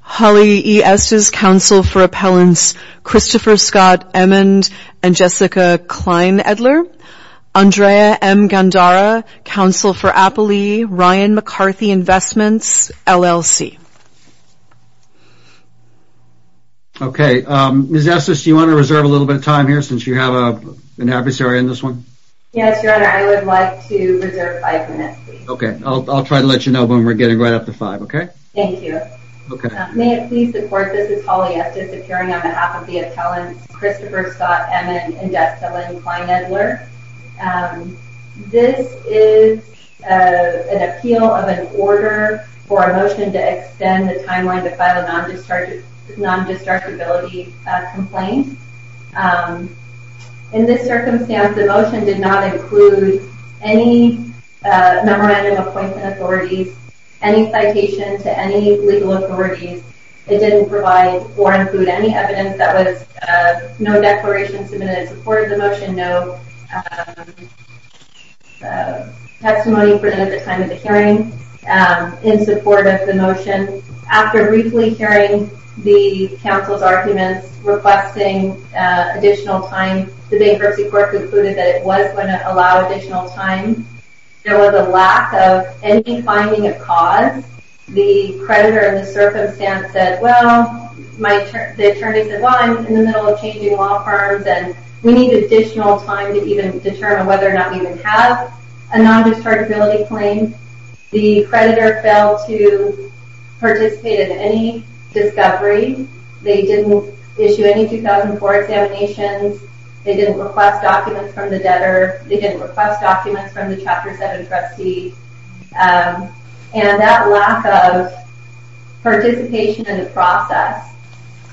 Holly E. Estes, Counsel for Appellants Christopher Scott Emond and Jessica Kleinedler Andrea M. Gandara, Counsel for Appellee Ryan McCarthy, Investments, LLC Okay, Ms. Estes, do you want to reserve a little bit of time here since you have an adversary on this one? Yes, Your Honor, I would like to reserve five minutes. Okay, I'll try to let you know when we're getting right up to five, okay? Thank you. Okay. May it please the Court, this is Holly Estes, appearing on behalf of the appellants Christopher Scott Emond and Jessica Kleinedler. This is an appeal of an order for a motion to extend the timeline to file a non-distractibility complaint. In this circumstance, the motion did not include any memorandum of appointment authorities, any citation to any legal authorities. It didn't provide or include any evidence that was no declaration submitted in support of the motion, no testimony presented at the time of the hearing in support of the motion. After briefly hearing the counsel's arguments requesting additional time, the Bankruptcy Court concluded that it was going to allow additional time. There was a lack of any finding of cause. The creditor in the circumstance said, well, the attorney said, well, I'm in the middle of changing law firms and we need additional time to even determine whether or not we would have a non-distractibility claim. The creditor failed to participate in any discovery. They didn't issue any 2004 examinations. They didn't request documents from the debtor. They didn't request documents from the Chapter 7 trustee. And that lack of participation in the process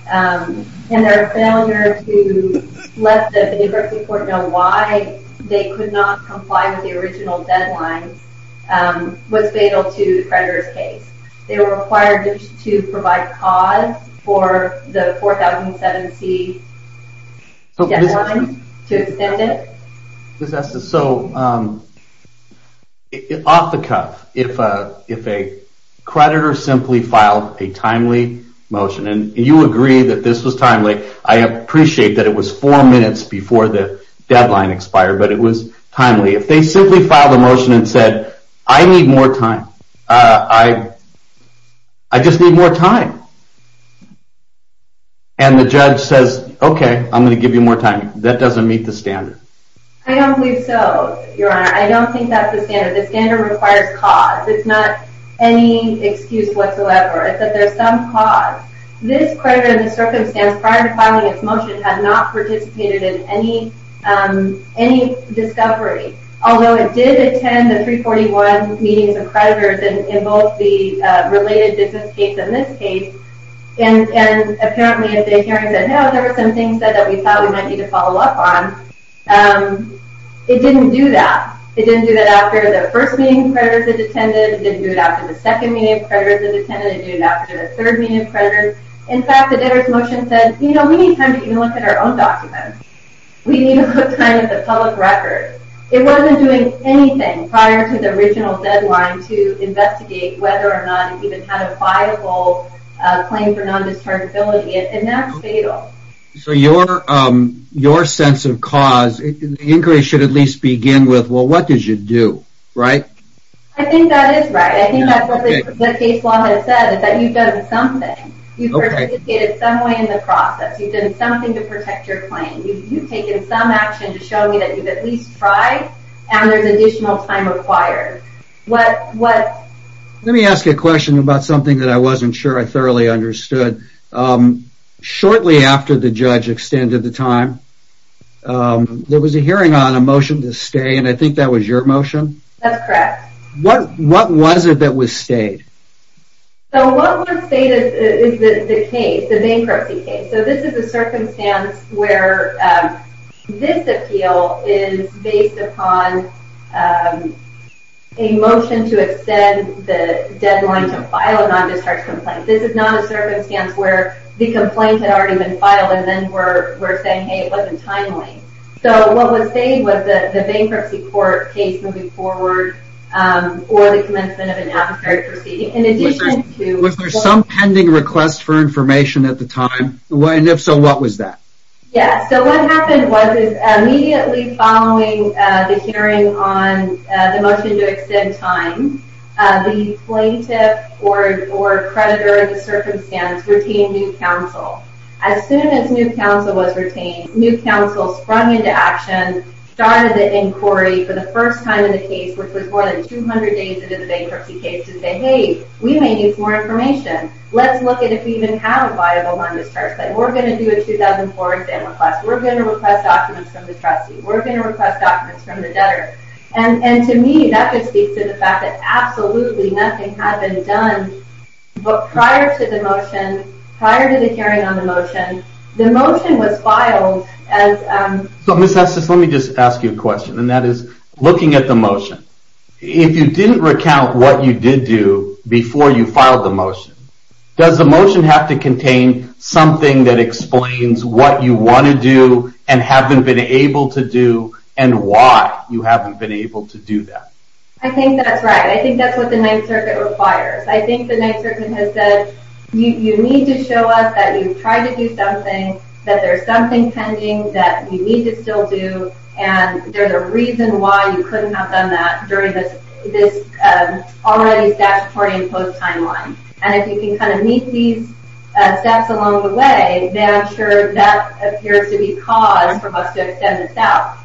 and their failure to let the Bankruptcy Court know why they could not comply with the original deadline was fatal to the creditor's case. They were required to provide cause for the 4007C deadline to extend it. So, off the cuff, if a creditor simply filed a timely motion, and you agree that this was timely, I appreciate that it was four minutes before the deadline expired, but it was timely. If they simply filed a motion and said, I need more time. I just need more time. And the judge says, okay, I'm going to give you more time. That doesn't meet the standard. I don't believe so, Your Honor. I don't think that's the standard. The standard requires cause. It's not any excuse whatsoever. It's that there's some cause. This creditor, in this circumstance, prior to filing its motion, had not participated in any discovery. Although it did attend the 341 meetings of creditors in both the related business case and this case. And apparently, if the hearing said, no, there were some things that we thought we might need to follow up on, it didn't do that. It didn't do that after the first meeting of creditors it attended. It didn't do it after the second meeting of creditors it attended. It didn't do it after the third meeting of creditors. In fact, the debtor's motion said, you know, we need time to even look at our own documents. We need to look at the public record. It wasn't doing anything prior to the original deadline to investigate whether or not it even had a viable claim for non-dischargeability. And that's fatal. So your sense of cause, the inquiry should at least begin with, well, what did you do, right? I think that is right. I think that's what the case law has said, is that you've done something. You've participated in some way in the process. You've done something to protect your claim. You've taken some action to show me that you've at least tried and there's additional time required. Let me ask you a question about something that I wasn't sure I thoroughly understood. Shortly after the judge extended the time, there was a hearing on a motion to stay and I think that was your motion? That's correct. What was it that was stayed? So what was stayed is the case, the bankruptcy case. So this is a circumstance where this appeal is based upon a motion to extend the deadline to file a non-discharge complaint. This is not a circumstance where the complaint had already been filed. And then we're saying, hey, it wasn't timely. So what was stayed was the bankruptcy court case moving forward or the commencement of an appeal proceeding. Was there some pending request for information at the time? And if so, what was that? Yeah, so what happened was immediately following the hearing on the motion to extend time, the plaintiff or creditor of the circumstance retained new counsel. As soon as new counsel was retained, new counsel sprung into action, started the inquiry for the first time in the case, which was more than 200 days into the bankruptcy case to say, hey, we may need more information. Let's look at if we even have a viable non-discharge claim. We're going to do a 2004 exam request. We're going to request documents from the trustee. We're going to request documents from the debtor. And to me, that could speak to the fact that absolutely nothing had been done prior to the motion, prior to the hearing on the motion. The motion was filed as... So Ms. Estes, let me just ask you a question. And that is, looking at the motion, if you didn't recount what you did do before you filed the motion, does the motion have to contain something that explains what you want to do and haven't been able to do and why you haven't been able to do that? I think that's right. I think that's what the Ninth Circuit requires. I think the Ninth Circuit has said, you need to show us that you've tried to do something, that there's something pending that you need to still do, and there's a reason why you couldn't have done that during this already statutory imposed timeline. And if you can kind of meet these steps along the way, then I'm sure that appears to be cause for us to extend this out.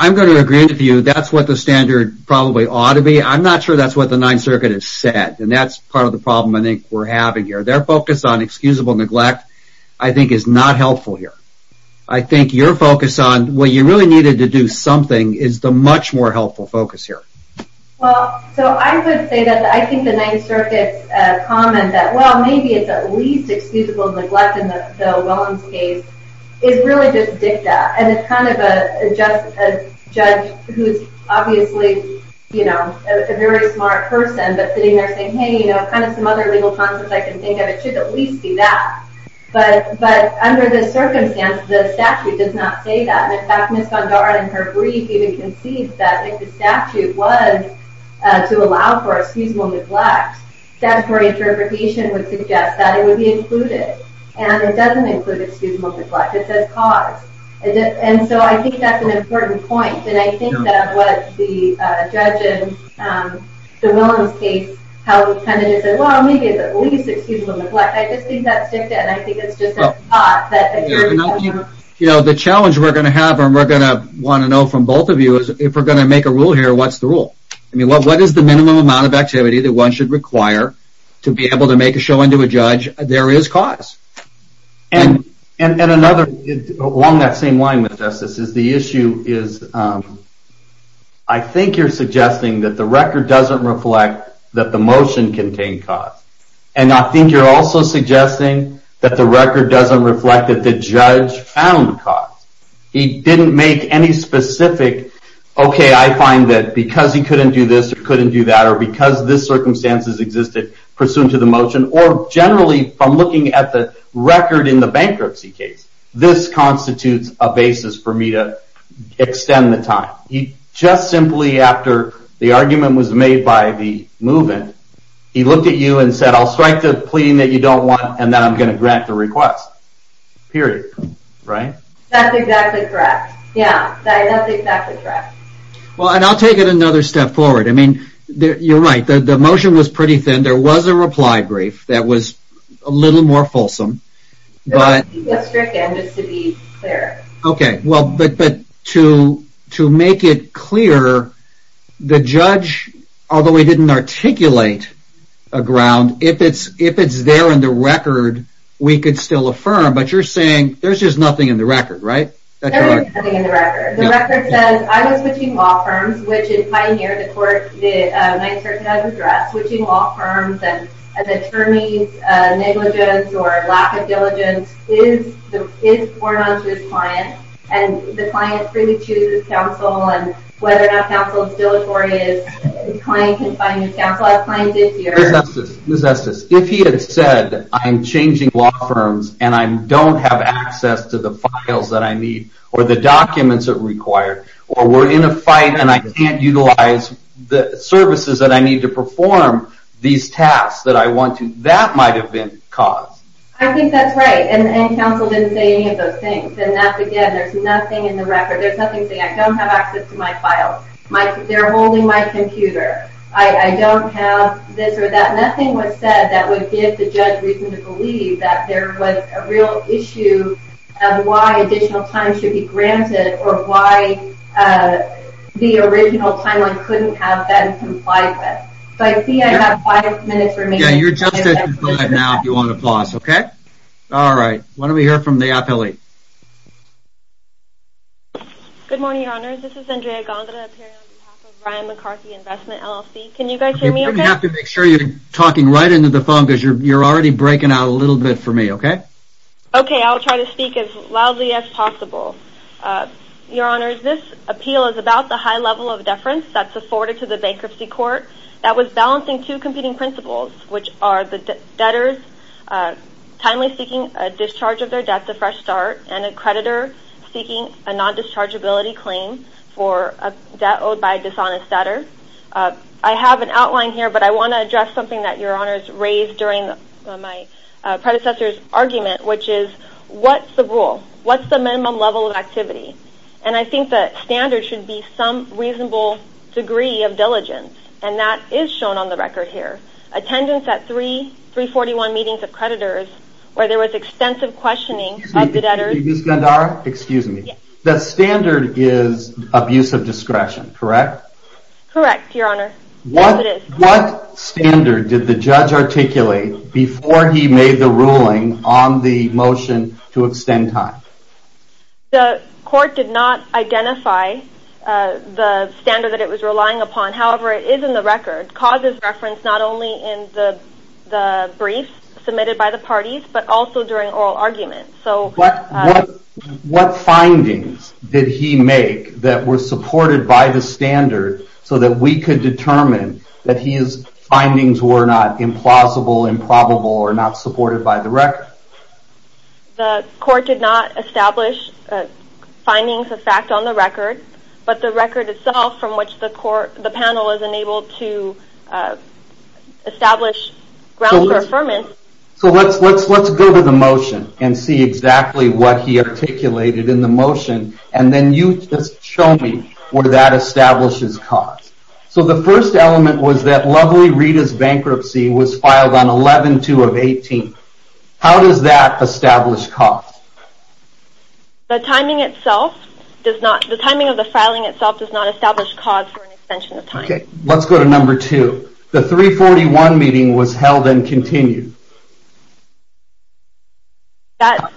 I'm going to agree with you. That's what the standard probably ought to be. I'm not sure that's what the Ninth Circuit has said. And that's part of the problem I think we're having here. Their focus on excusable neglect I think is not helpful here. I think your focus on what you really needed to do something is the much more helpful focus here. Well, so I would say that I think the Ninth Circuit's comment that, well, maybe it's at least excusable neglect in the Willems case, is really just dicta. And it's kind of a judge who's obviously a very smart person, but sitting there saying, hey, you know, kind of some other legal concepts I can think of, it should at least be that. But under this circumstance, the statute does not say that. In fact, Ms. Gondar in her brief even concedes that if the statute was to allow for excusable neglect, statutory interpretation would suggest that it would be included. And it doesn't include excusable neglect. It says cause. And so I think that's an important point. And I think that what the judge in the Willems case, how he kind of just said, well, maybe it's at least excusable neglect. I just think that's dicta. And I think it's just a thought. You know, the challenge we're going to have, and we're going to want to know from both of you, is if we're going to make a rule here, what's the rule? I mean, what is the minimum amount of activity that one should require to be able to make a showing to a judge there is cause? And another, along that same line with justice, is the issue is I think you're suggesting that the record doesn't reflect that the motion contained cause. And I think you're also suggesting that the record doesn't reflect that the judge found cause. He didn't make any specific, okay, I find that because he couldn't do this or couldn't do that, or because this circumstances existed pursuant to the motion, or generally from looking at the record in the bankruptcy case, this constitutes a basis for me to extend the time. He just simply, after the argument was made by the move-in, he looked at you and said, I'll strike the plea that you don't want, and then I'm going to grant the request. Period. Right? That's exactly correct. Yeah, that's exactly correct. Well, and I'll take it another step forward. I mean, you're right, the motion was pretty thin. There was a reply brief that was a little more fulsome. Just to be clear. Okay, well, but to make it clear, the judge, although he didn't articulate a ground, if it's there in the record, we could still affirm, but you're saying there's just nothing in the record, right? There was nothing in the record. The record says, I was switching law firms, which in Pioneer, the court, the Ninth Circuit has addressed, switching law firms, and the attorney's negligence or lack of diligence is borne onto his client, and the client freely chooses counsel, and whether or not counsel is deleterious, the client can find counsel. Ms. Estes, if he had said, I'm changing law firms, and I don't have access to the files that I need, or the documents that are required, or we're in a fight, and I can't utilize the services that I need to perform these tasks that I want to, that might have been caused. I think that's right, and counsel didn't say any of those things, and that's again, there's nothing in the record, there's nothing saying, I don't have access to my files, they're holding my computer, I don't have this or that, nothing was said that would give the judge reason to believe that there was a real issue of why additional time should be granted, or why the original timeline couldn't have been complied with. So I see I have five minutes remaining. Yeah, you're just at your time now, if you want to pause, okay? Alright, why don't we hear from the appellee. Good morning, Your Honor, this is Andrea Gondra, appearing on behalf of Ryan McCarthy Investment, LLC. Can you guys hear me okay? You have to make sure you're talking right into the phone, because you're already breaking out a little bit for me, okay? Okay, I'll try to speak as loudly as possible. Your Honor, this appeal is about the high level of deference that's afforded to the bankruptcy court that was balancing two competing principles, which are the debtors timely seeking a discharge of their debt to Fresh Start, and a creditor seeking a non-dischargeability claim for a debt owed by a dishonest debtor. I have an outline here, but I want to address something that Your Honor has raised during my predecessor's argument, which is, what's the rule? What's the minimum level of activity? And I think the standard should be some reasonable degree of diligence, and that is shown on the record here. Attendance at three 341 meetings of creditors, where there was extensive questioning of the debtors... Excuse me, excuse me, that standard is abuse of discretion, correct? Correct, Your Honor. What standard did the judge articulate before he made the ruling on the motion to extend time? The court did not identify the standard that it was relying upon. However, it is in the record. Cause is referenced not only in the brief submitted by the parties, but also during oral arguments. What findings did he make that were supported by the standard, so that we could determine that his findings were not implausible, improbable, or not supported by the record? The court did not establish findings of fact on the record, but the record itself from which the panel was enabled to establish grounds for affirmance... So let's go to the motion and see exactly what he articulated in the motion, and then you just show me where that establishes cause. So the first element was that Lovely Rita's bankruptcy was filed on 11-2-18. How does that establish cause? The timing of the filing itself does not establish cause for an extension of time. Okay, let's go to number two. The 3-41 meeting was held and continued. I'm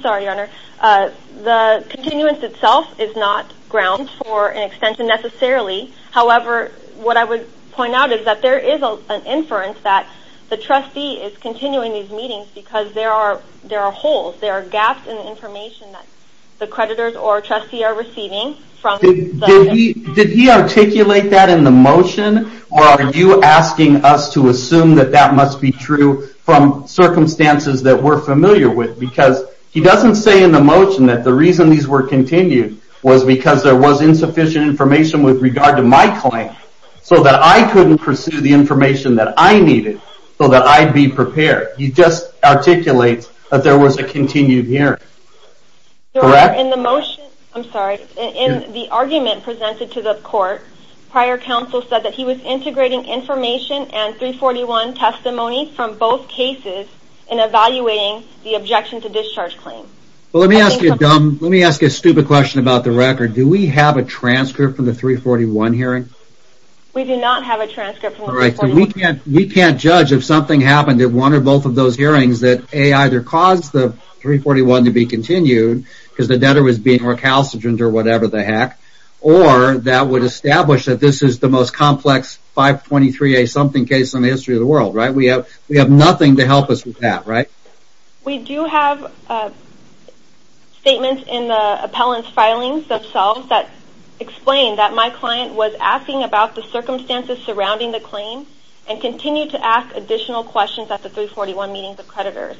sorry, Your Honor. The continuance itself is not grounds for an extension necessarily. However, what I would point out is that there is an inference that the trustee is continuing these meetings because there are holes, there are gaps in the information that the creditors or trustee are receiving. Did he articulate that in the motion, or are you asking us to assume that that must be true from circumstances that we're familiar with? Because he doesn't say in the motion that the reason these were continued was because there was insufficient information with regard to my claim, so that I couldn't pursue the information that I needed so that I'd be prepared. He just articulates that there was a continued hearing. Your Honor, in the argument presented to the court, prior counsel said that he was integrating information and 3-41 testimony from both cases in evaluating the objection to discharge claim. Let me ask you a stupid question about the record. Do we have a transcript from the 3-41 hearing? We do not have a transcript from the 3-41 hearing. We can't judge if something happened at one or both of those hearings that either caused the 3-41 to be continued because the debtor was being recalcitrant or whatever the heck, or that would establish that this is the most complex 523A-something case in the history of the world. We have nothing to help us with that, right? We do have statements in the appellant's filings themselves that explain that my client was asking about the circumstances surrounding the claim and continued to ask additional questions at the 3-41 meetings of creditors.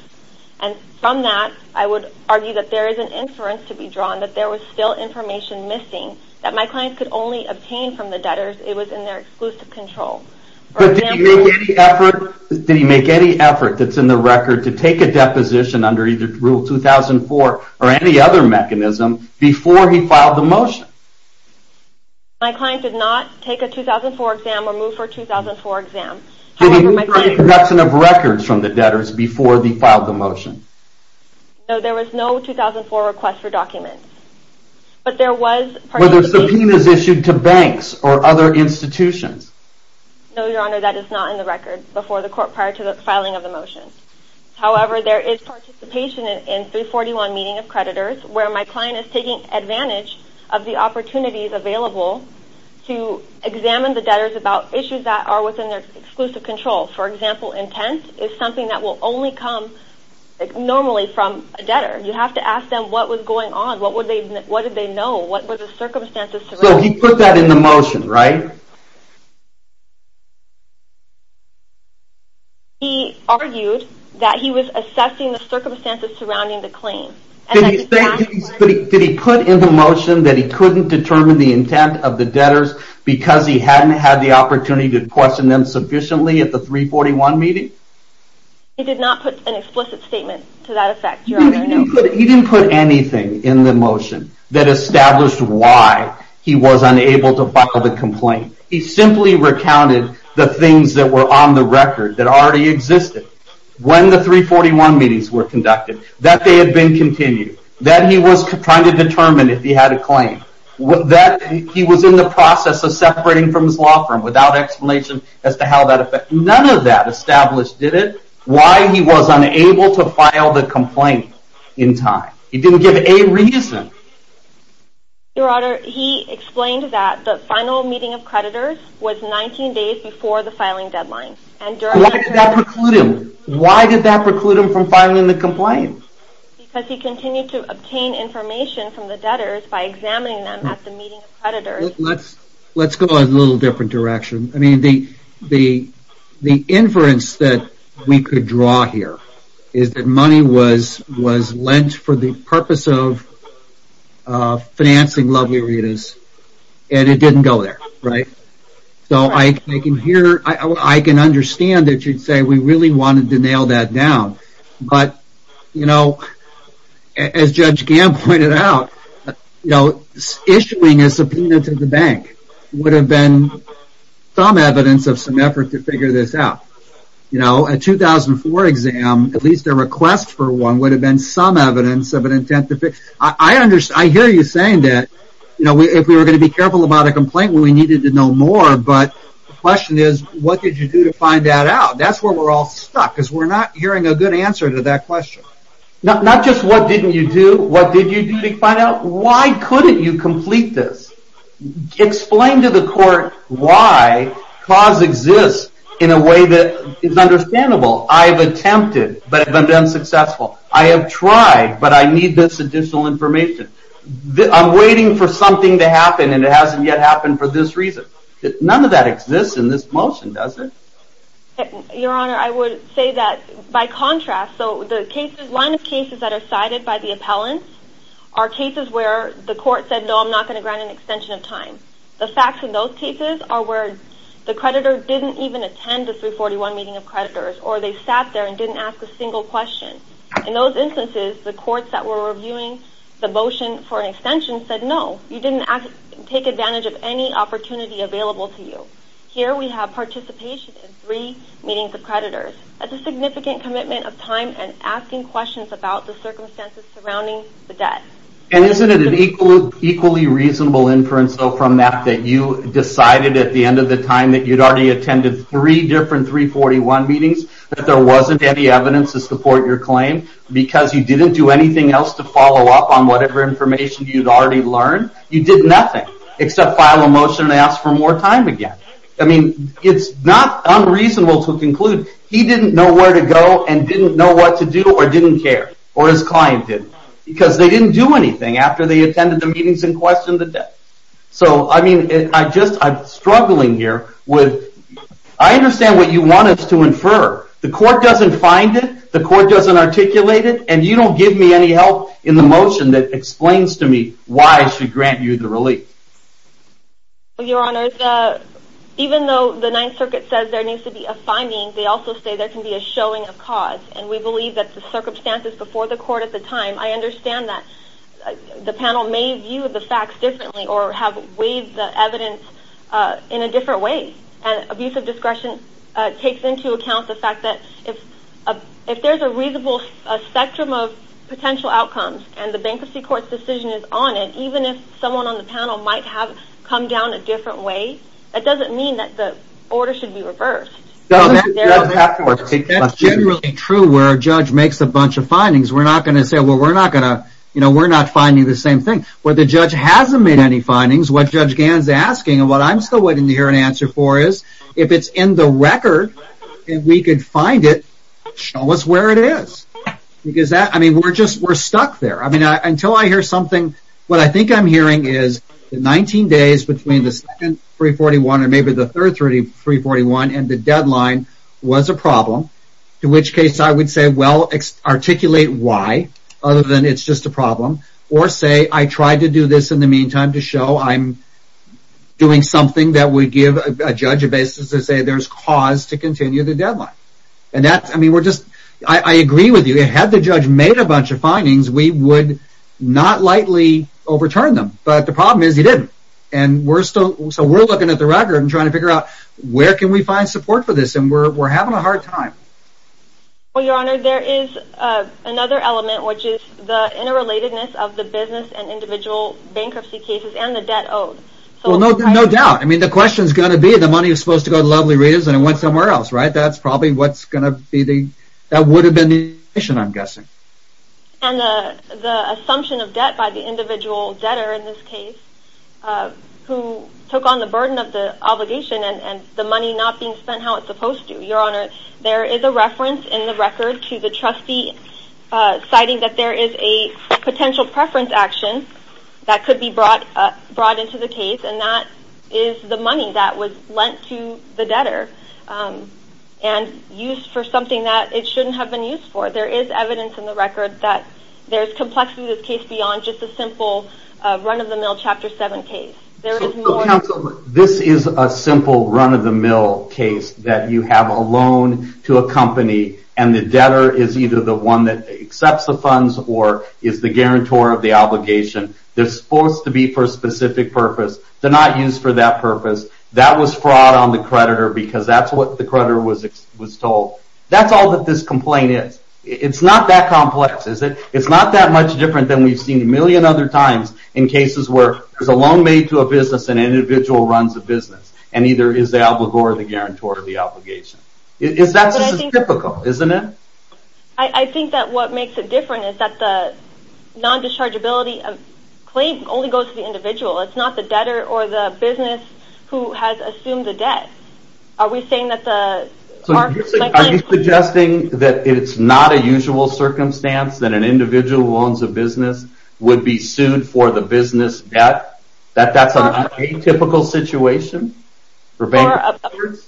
From that, I would argue that there is an inference to be drawn that there was still information missing that my client could only obtain from the debtors. It was in their exclusive control. But did he make any effort that's in the record to take a deposition under either Rule 2004 or any other mechanism before he filed the motion? My client did not take a 2004 exam or move for a 2004 exam. Did he withdraw any production of records from the debtors before he filed the motion? No, there was no 2004 request for documents. Were there subpoenas issued to banks or other institutions? No, Your Honor, that is not in the record before the court prior to the filing of the motion. However, there is participation in 3-41 meeting of creditors where my client is taking advantage of the opportunities available to examine the debtors about issues that are within their exclusive control. For example, intent is something that will only come normally from a debtor. You have to ask them what was going on. What did they know? What were the circumstances? So he put that in the motion, right? He argued that he was assessing the circumstances surrounding the claim. Did he put in the motion that he couldn't determine the intent of the debtors because he hadn't had the opportunity to question them sufficiently at the 3-41 meeting? He did not put an explicit statement to that effect, Your Honor. He didn't put anything in the motion that established why he was unable to file the complaint. He simply recounted the things that were on the record that already existed when the 3-41 meetings were conducted. That they had been continued. That he was trying to determine if he had a claim. That he was in the process of separating from his law firm without explanation as to how that affected him. None of that established, did it? Why he was unable to file the complaint in time. He didn't give any reason. Your Honor, he explained that the final meeting of creditors was 19 days before the filing deadline. Why did that preclude him? Why did that preclude him from filing the complaint? Because he continued to obtain information from the debtors by examining them at the meeting of creditors. Let's go in a little different direction. The inference that we could draw here is that money was lent for the purpose of financing Lovely Rita's. And it didn't go there, right? I can understand that you'd say we really wanted to nail that down. But as Judge Gamm pointed out, issuing a subpoena to the bank would have been some evidence of some effort to figure this out. A 2004 exam, at least a request for one, would have been some evidence of an intent to fix it. I hear you saying that if we were going to be careful about a complaint, we needed to know more. But the question is, what did you do to find that out? That's where we're all stuck, because we're not hearing a good answer to that question. Not just what didn't you do, what did you do to find out? Why couldn't you complete this? Explain to the court why cause exists in a way that is understandable. I have attempted, but have been unsuccessful. I have tried, but I need this additional information. I'm waiting for something to happen, and it hasn't yet happened for this reason. None of that exists in this motion, does it? Your Honor, I would say that by contrast, the line of cases that are cited by the appellant are cases where the court said, no, I'm not going to grant an extension of time. The facts in those cases are where the creditor didn't even attend the 341 meeting of creditors, or they sat there and didn't ask a single question. In those instances, the courts that were reviewing the motion for an extension said, no, you didn't take advantage of any opportunity available to you. Here we have participation in three meetings of creditors. That's a significant commitment of time and asking questions about the circumstances surrounding the debt. And isn't it an equally reasonable inference, though, from that, that you decided at the end of the time that you'd already attended three different 341 meetings, that there wasn't any evidence to support your claim, because you didn't do anything else to follow up on whatever information you'd already learned? You did nothing except file a motion and ask for more time again. I mean, it's not unreasonable to conclude he didn't know where to go and didn't know what to do, or didn't care, or his client didn't, because they didn't do anything after they attended the meetings and questioned the debt. So, I mean, I'm struggling here with, I understand what you want us to infer. The court doesn't find it, the court doesn't articulate it, and you don't give me any help in the motion that explains to me why I should grant you the relief. Your Honor, even though the Ninth Circuit says there needs to be a finding, they also say there can be a showing of cause, and we believe that the circumstances before the court at the time, I understand that the panel may view the facts differently or have weighed the evidence in a different way. And abuse of discretion takes into account the fact that if there's a reasonable spectrum of potential outcomes and the Bankruptcy Court's decision is on it, even if someone on the panel might have come down a different way, that doesn't mean that the order should be reversed. That's generally true where a judge makes a bunch of findings. We're not going to say, well, we're not going to, you know, we're not finding the same thing. Where the judge hasn't made any findings, what Judge Gann is asking, and what I'm still waiting to hear an answer for is, if it's in the record and we could find it, show us where it is. Because that, I mean, we're just, we're stuck there. I mean, until I hear something, what I think I'm hearing is the 19 days between the second 341 and maybe the third 341 and the deadline was a problem, in which case I would say, well, articulate why, other than it's just a problem, or say, I tried to do this in the meantime to show I'm doing something that would give a judge a basis to say there's cause to continue the deadline. And that's, I mean, we're just, I agree with you. Had the judge made a bunch of findings, we would not lightly overturn them. But the problem is he didn't. And we're still, so we're looking at the record and trying to figure out where can we find support for this and we're having a hard time. Well, Your Honor, there is another element, which is the interrelatedness of the business and individual bankruptcy cases and the debt owed. Well, no doubt. I mean, the question is going to be the money is supposed to go to Lovely Readers and it went somewhere else, right? That's probably what's going to be the, that would have been the admission, I'm guessing. And the assumption of debt by the individual debtor in this case, who took on the burden of the obligation and the money not being spent how it's supposed to. Your Honor, there is a reference in the record to the trustee citing that there is a potential preference action that could be brought into the case and that is the money that was lent to the debtor and used for something that it shouldn't have been used for. There is evidence in the record that there's complexity in this case beyond just a simple run-of-the-mill Chapter 7 case. Counsel, this is a simple run-of-the-mill case that you have a loan to a company and the debtor is either the one that accepts the funds or is the guarantor of the obligation. They're supposed to be for a specific purpose. They're not used for that purpose. That was fraud on the creditor because that's what the creditor was told. That's all that this complaint is. It's not that complex, is it? It's not that much different than we've seen a million other times in cases where there's a loan made to a business and an individual runs the business and either is the obligor or the guarantor of the obligation. That's just as typical, isn't it? I think that what makes it different is that the non-dischargeability claim only goes to the individual. It's not the debtor or the business who has assumed the debt. Are we saying that the market's like that? Are you suggesting that it's not a usual circumstance that an individual who owns a business would be sued for the business debt? That that's an atypical situation for bankers?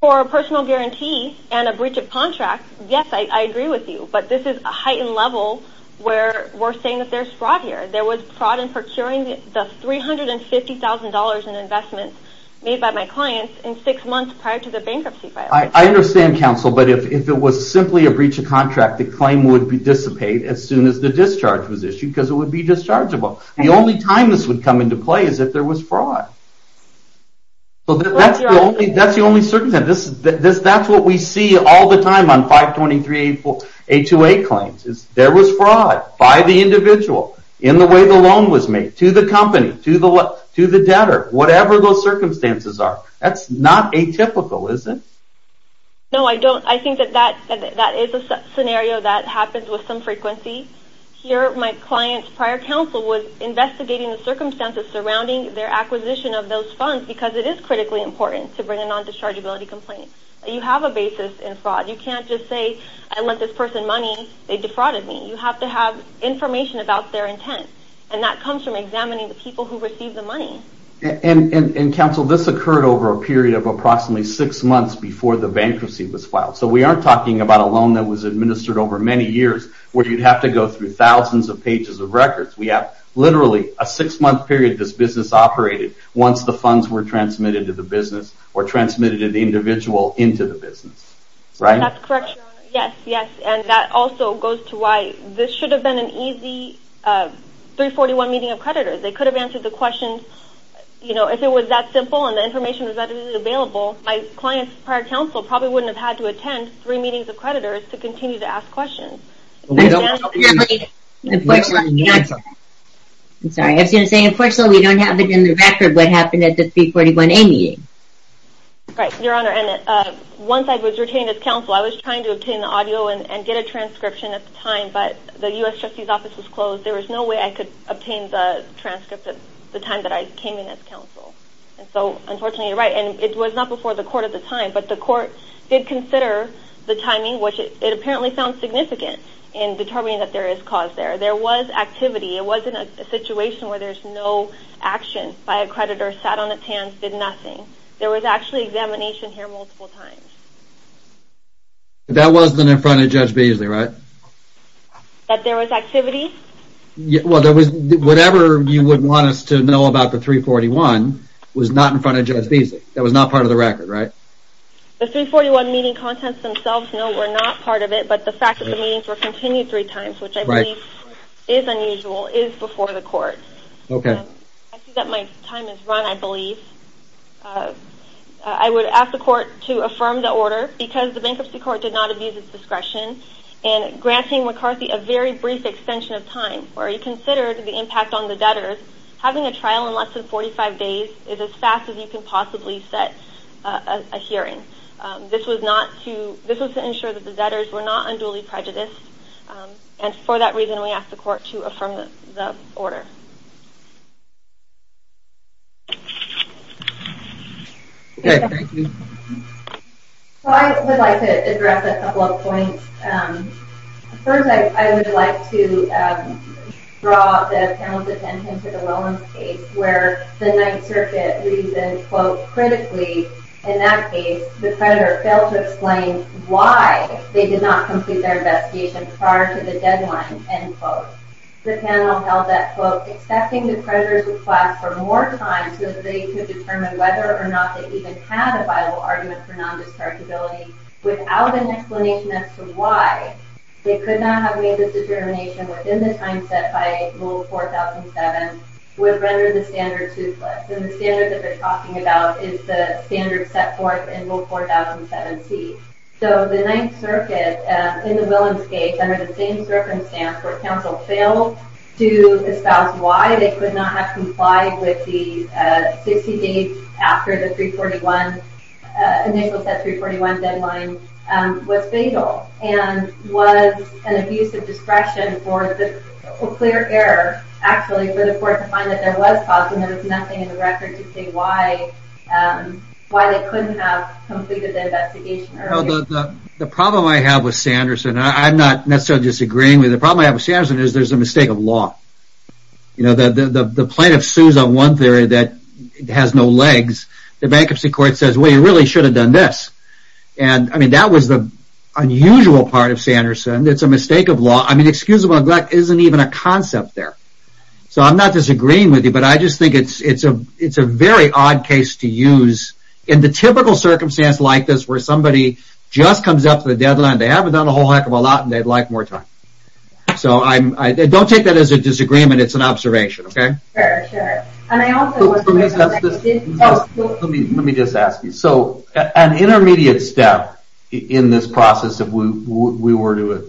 For a personal guarantee and a breach of contract, yes, I agree with you. But this is a heightened level where we're saying that there's fraud here. There was fraud in procuring the $350,000 in investments made by my clients in six months prior to the bankruptcy violation. I understand, counsel, but if it was simply a breach of contract, the claim would dissipate as soon as the discharge was issued because it would be dischargeable. The only time this would come into play is if there was fraud. That's the only certainty. That's what we see all the time on 523-828 claims. There was fraud by the individual in the way the loan was made to the company, to the debtor, whatever those circumstances are. That's not atypical, is it? No, I don't. I think that that is a scenario that happens with some frequency. Here my client's prior counsel was investigating the circumstances surrounding their acquisition of those funds because it is critically important to bring a non-dischargeability complaint. You have a basis in fraud. You can't just say, I lent this person money, they defrauded me. You have to have information about their intent, and that comes from examining the people who received the money. Counsel, this occurred over a period of approximately six months before the bankruptcy was filed. We aren't talking about a loan that was administered over many years where you'd have to go through thousands of pages of records. We have literally a six-month period this business operated once the funds were transmitted to the business or transmitted to the individual into the business. That's correct, Your Honor. That also goes to why this should have been an easy 341 meeting of creditors. They could have answered the questions. If it was that simple and the information was readily available, my client's prior counsel probably wouldn't have had to attend three meetings of creditors to continue to ask questions. Unfortunately, we don't have it in the record what happened at the 341A meeting. Right, Your Honor. Once I was retained as counsel, I was trying to obtain the audio and get a transcription at the time, but the U.S. Trustee's Office was closed. There was no way I could obtain the transcript at the time that I came in as counsel. So, unfortunately, you're right. And it was not before the court at the time, but the court did consider the timing, which it apparently found significant in determining that there is cause there. There was activity. It wasn't a situation where there's no action by a creditor, sat on its hands, did nothing. There was actually examination here multiple times. That wasn't in front of Judge Beasley, right? That there was activity? Well, whatever you would want us to know about the 341 was not in front of Judge Beasley. That was not part of the record, right? The 341 meeting contents themselves, no, were not part of it, but the fact that the meetings were continued three times, which I believe is unusual, is before the court. I see that my time is run, I believe. I would ask the court to affirm the order because the bankruptcy court did not abuse its discretion in granting McCarthy a very brief extension of time, where he considered the impact on the debtors. Having a trial in less than 45 days is as fast as you can possibly set a hearing. This was to ensure that the debtors were not unduly prejudiced, and for that reason we ask the court to affirm the order. Okay, thank you. I would like to address a couple of points. First, I would like to draw the panel's attention to the Lowen case, where the Ninth Circuit reasoned, quote, critically in that case the creditor failed to explain why they did not complete their investigation prior to the deadline, end quote. The panel held that, quote, expecting the creditor's request for more time so that they could determine whether or not they even had a viable argument for non-discardability without an explanation as to why, they could not have made this determination within the time set by Rule 4007, would render the standard toothless. And the standard that they're talking about is the standard set forth in Rule 4007C. So the Ninth Circuit, in the Willems case, under the same circumstance where counsel failed to espouse why, they could not have complied with the 60 days after the 341, initial set 341 deadline, was fatal. And was an abuse of discretion or clear error, actually, for the court to find that there was cause, and there was nothing in the record to say why, why they couldn't have completed the investigation earlier. The problem I have with Sanderson, I'm not necessarily disagreeing with him, the problem I have with Sanderson is there's a mistake of law. You know, the plaintiff sues on one theory that has no legs, the bankruptcy court says, well, you really should have done this. And, I mean, that was the unusual part of Sanderson, it's a mistake of law. I mean, excusable neglect isn't even a concept there. So I'm not disagreeing with you, but I just think it's a very odd case to use, in the typical circumstance like this, where somebody just comes up to the deadline, they haven't done a whole heck of a lot, and they'd like more time. So, don't take that as a disagreement, it's an observation, okay? Let me just ask you, so an intermediate step in this process, if we were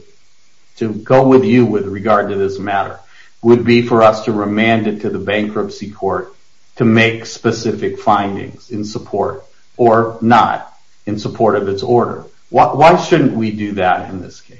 to go with you with regard to this matter, would be for us to remand it to the bankruptcy court to make specific findings in support, or not in support of its order. Why shouldn't we do that in this case?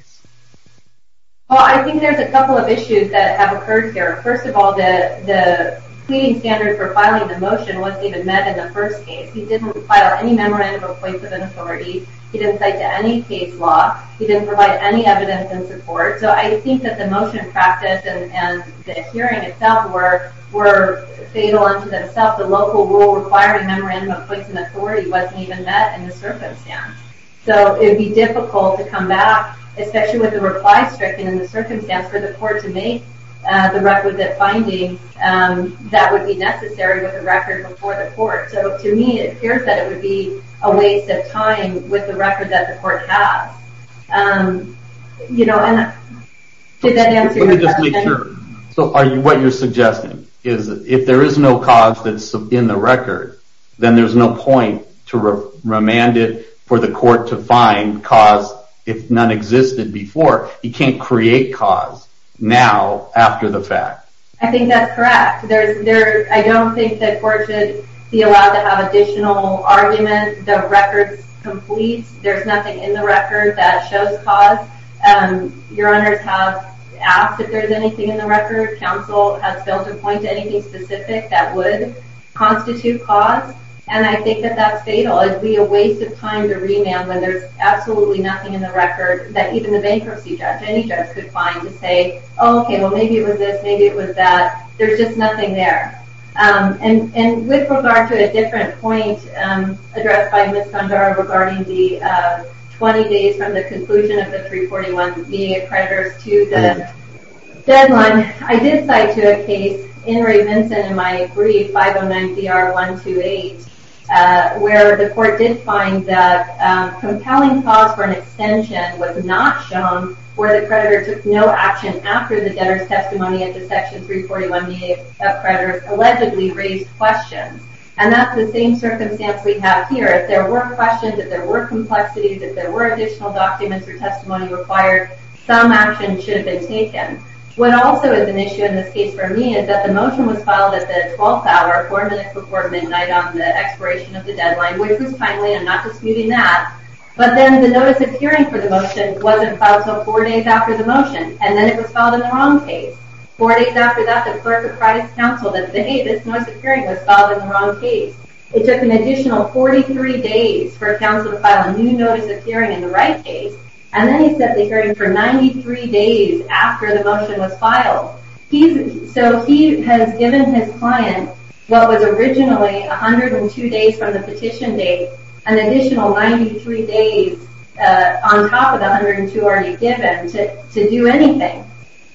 Well, I think there's a couple of issues that have occurred here. First of all, the pleading standard for filing the motion wasn't even met in the first case. He didn't file any memorandum of points of an authority, he didn't cite to any case law, he didn't provide any evidence in support. So I think that the motion in practice and the hearing itself were fatal unto themselves. The local rule requiring memorandum of points of authority wasn't even met in the circumstance. So it would be difficult to come back, especially with the reply stricken in the circumstance, for the court to make the record that finding that would be necessary with the record before the court. So to me it appears that it would be a waste of time with the record that the court has. Did that answer your question? Let me just make sure. So what you're suggesting is if there is no cause that's in the record, then there's no point to remand it for the court to find cause if none existed before. You can't create cause now after the fact. I think that's correct. I don't think the court should be allowed to have additional argument. The record's complete. There's nothing in the record that shows cause. Your honors have asked if there's anything in the record. Counsel has failed to point to anything specific that would constitute cause. And I think that that's fatal. It would be a waste of time to remand when there's absolutely nothing in the record that even the bankruptcy judge, any judge, could find to say, okay, well, maybe it was this, maybe it was that. There's just nothing there. And with regard to a different point addressed by Ms. Sundar regarding the 20 days from the conclusion of the 341 being accreditors to the deadline, I did cite to a case in Ray Vinson in my brief 509-CR-128 where the court did find that compelling cause for an extension was not shown where the creditor took no action after the debtor's testimony into Section 341B of creditors allegedly raised questions. And that's the same circumstance we have here. If there were questions, if there were complexities, if there were additional documents or testimony required, some action should have been taken. What also is an issue in this case for me is that the motion was filed at the 12th hour, four minutes before midnight, on the expiration of the deadline, which was timely, I'm not disputing that. But then the notice of hearing for the motion wasn't filed until four days after the motion, and then it was filed in the wrong case. Four days after that, the clerk of private counsel that said, hey, this notice of hearing was filed in the wrong case. It took an additional 43 days for counsel to file a new notice of hearing in the right case, and then he set the hearing for 93 days after the motion was filed. So he has given his client what was originally 102 days from the petition date, an additional 93 days on top of the 102 already given to do anything.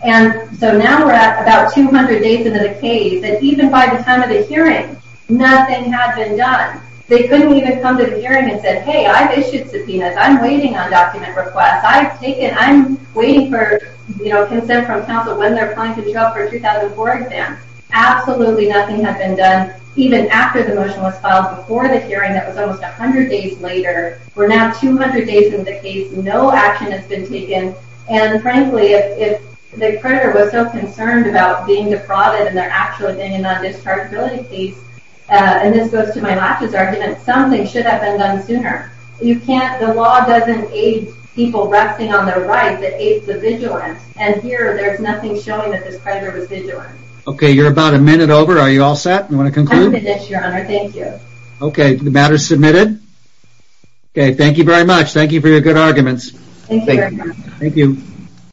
And so now we're at about 200 days into the case, and even by the time of the hearing, nothing had been done. They couldn't even come to the hearing and say, hey, I've issued subpoenas. I'm waiting on document requests. I'm waiting for consent from counsel when they're applying to jail for a 2004 exam. Absolutely nothing had been done, even after the motion was filed before the hearing. That was almost 100 days later. We're now 200 days into the case. No action has been taken. And frankly, if the creditor was so concerned about being depraved in their actual opinion on this chargeability case, and this goes to my last argument, something should have been done sooner. The law doesn't aid people resting on their right. It aids the vigilant. And here, there's nothing showing that this creditor was vigilant. OK, you're about a minute over. Are you all set? You want to conclude? I'm finished, Your Honor. Thank you. OK, the matter is submitted. OK, thank you very much. Thank you for your good arguments. Thank you. Thank you.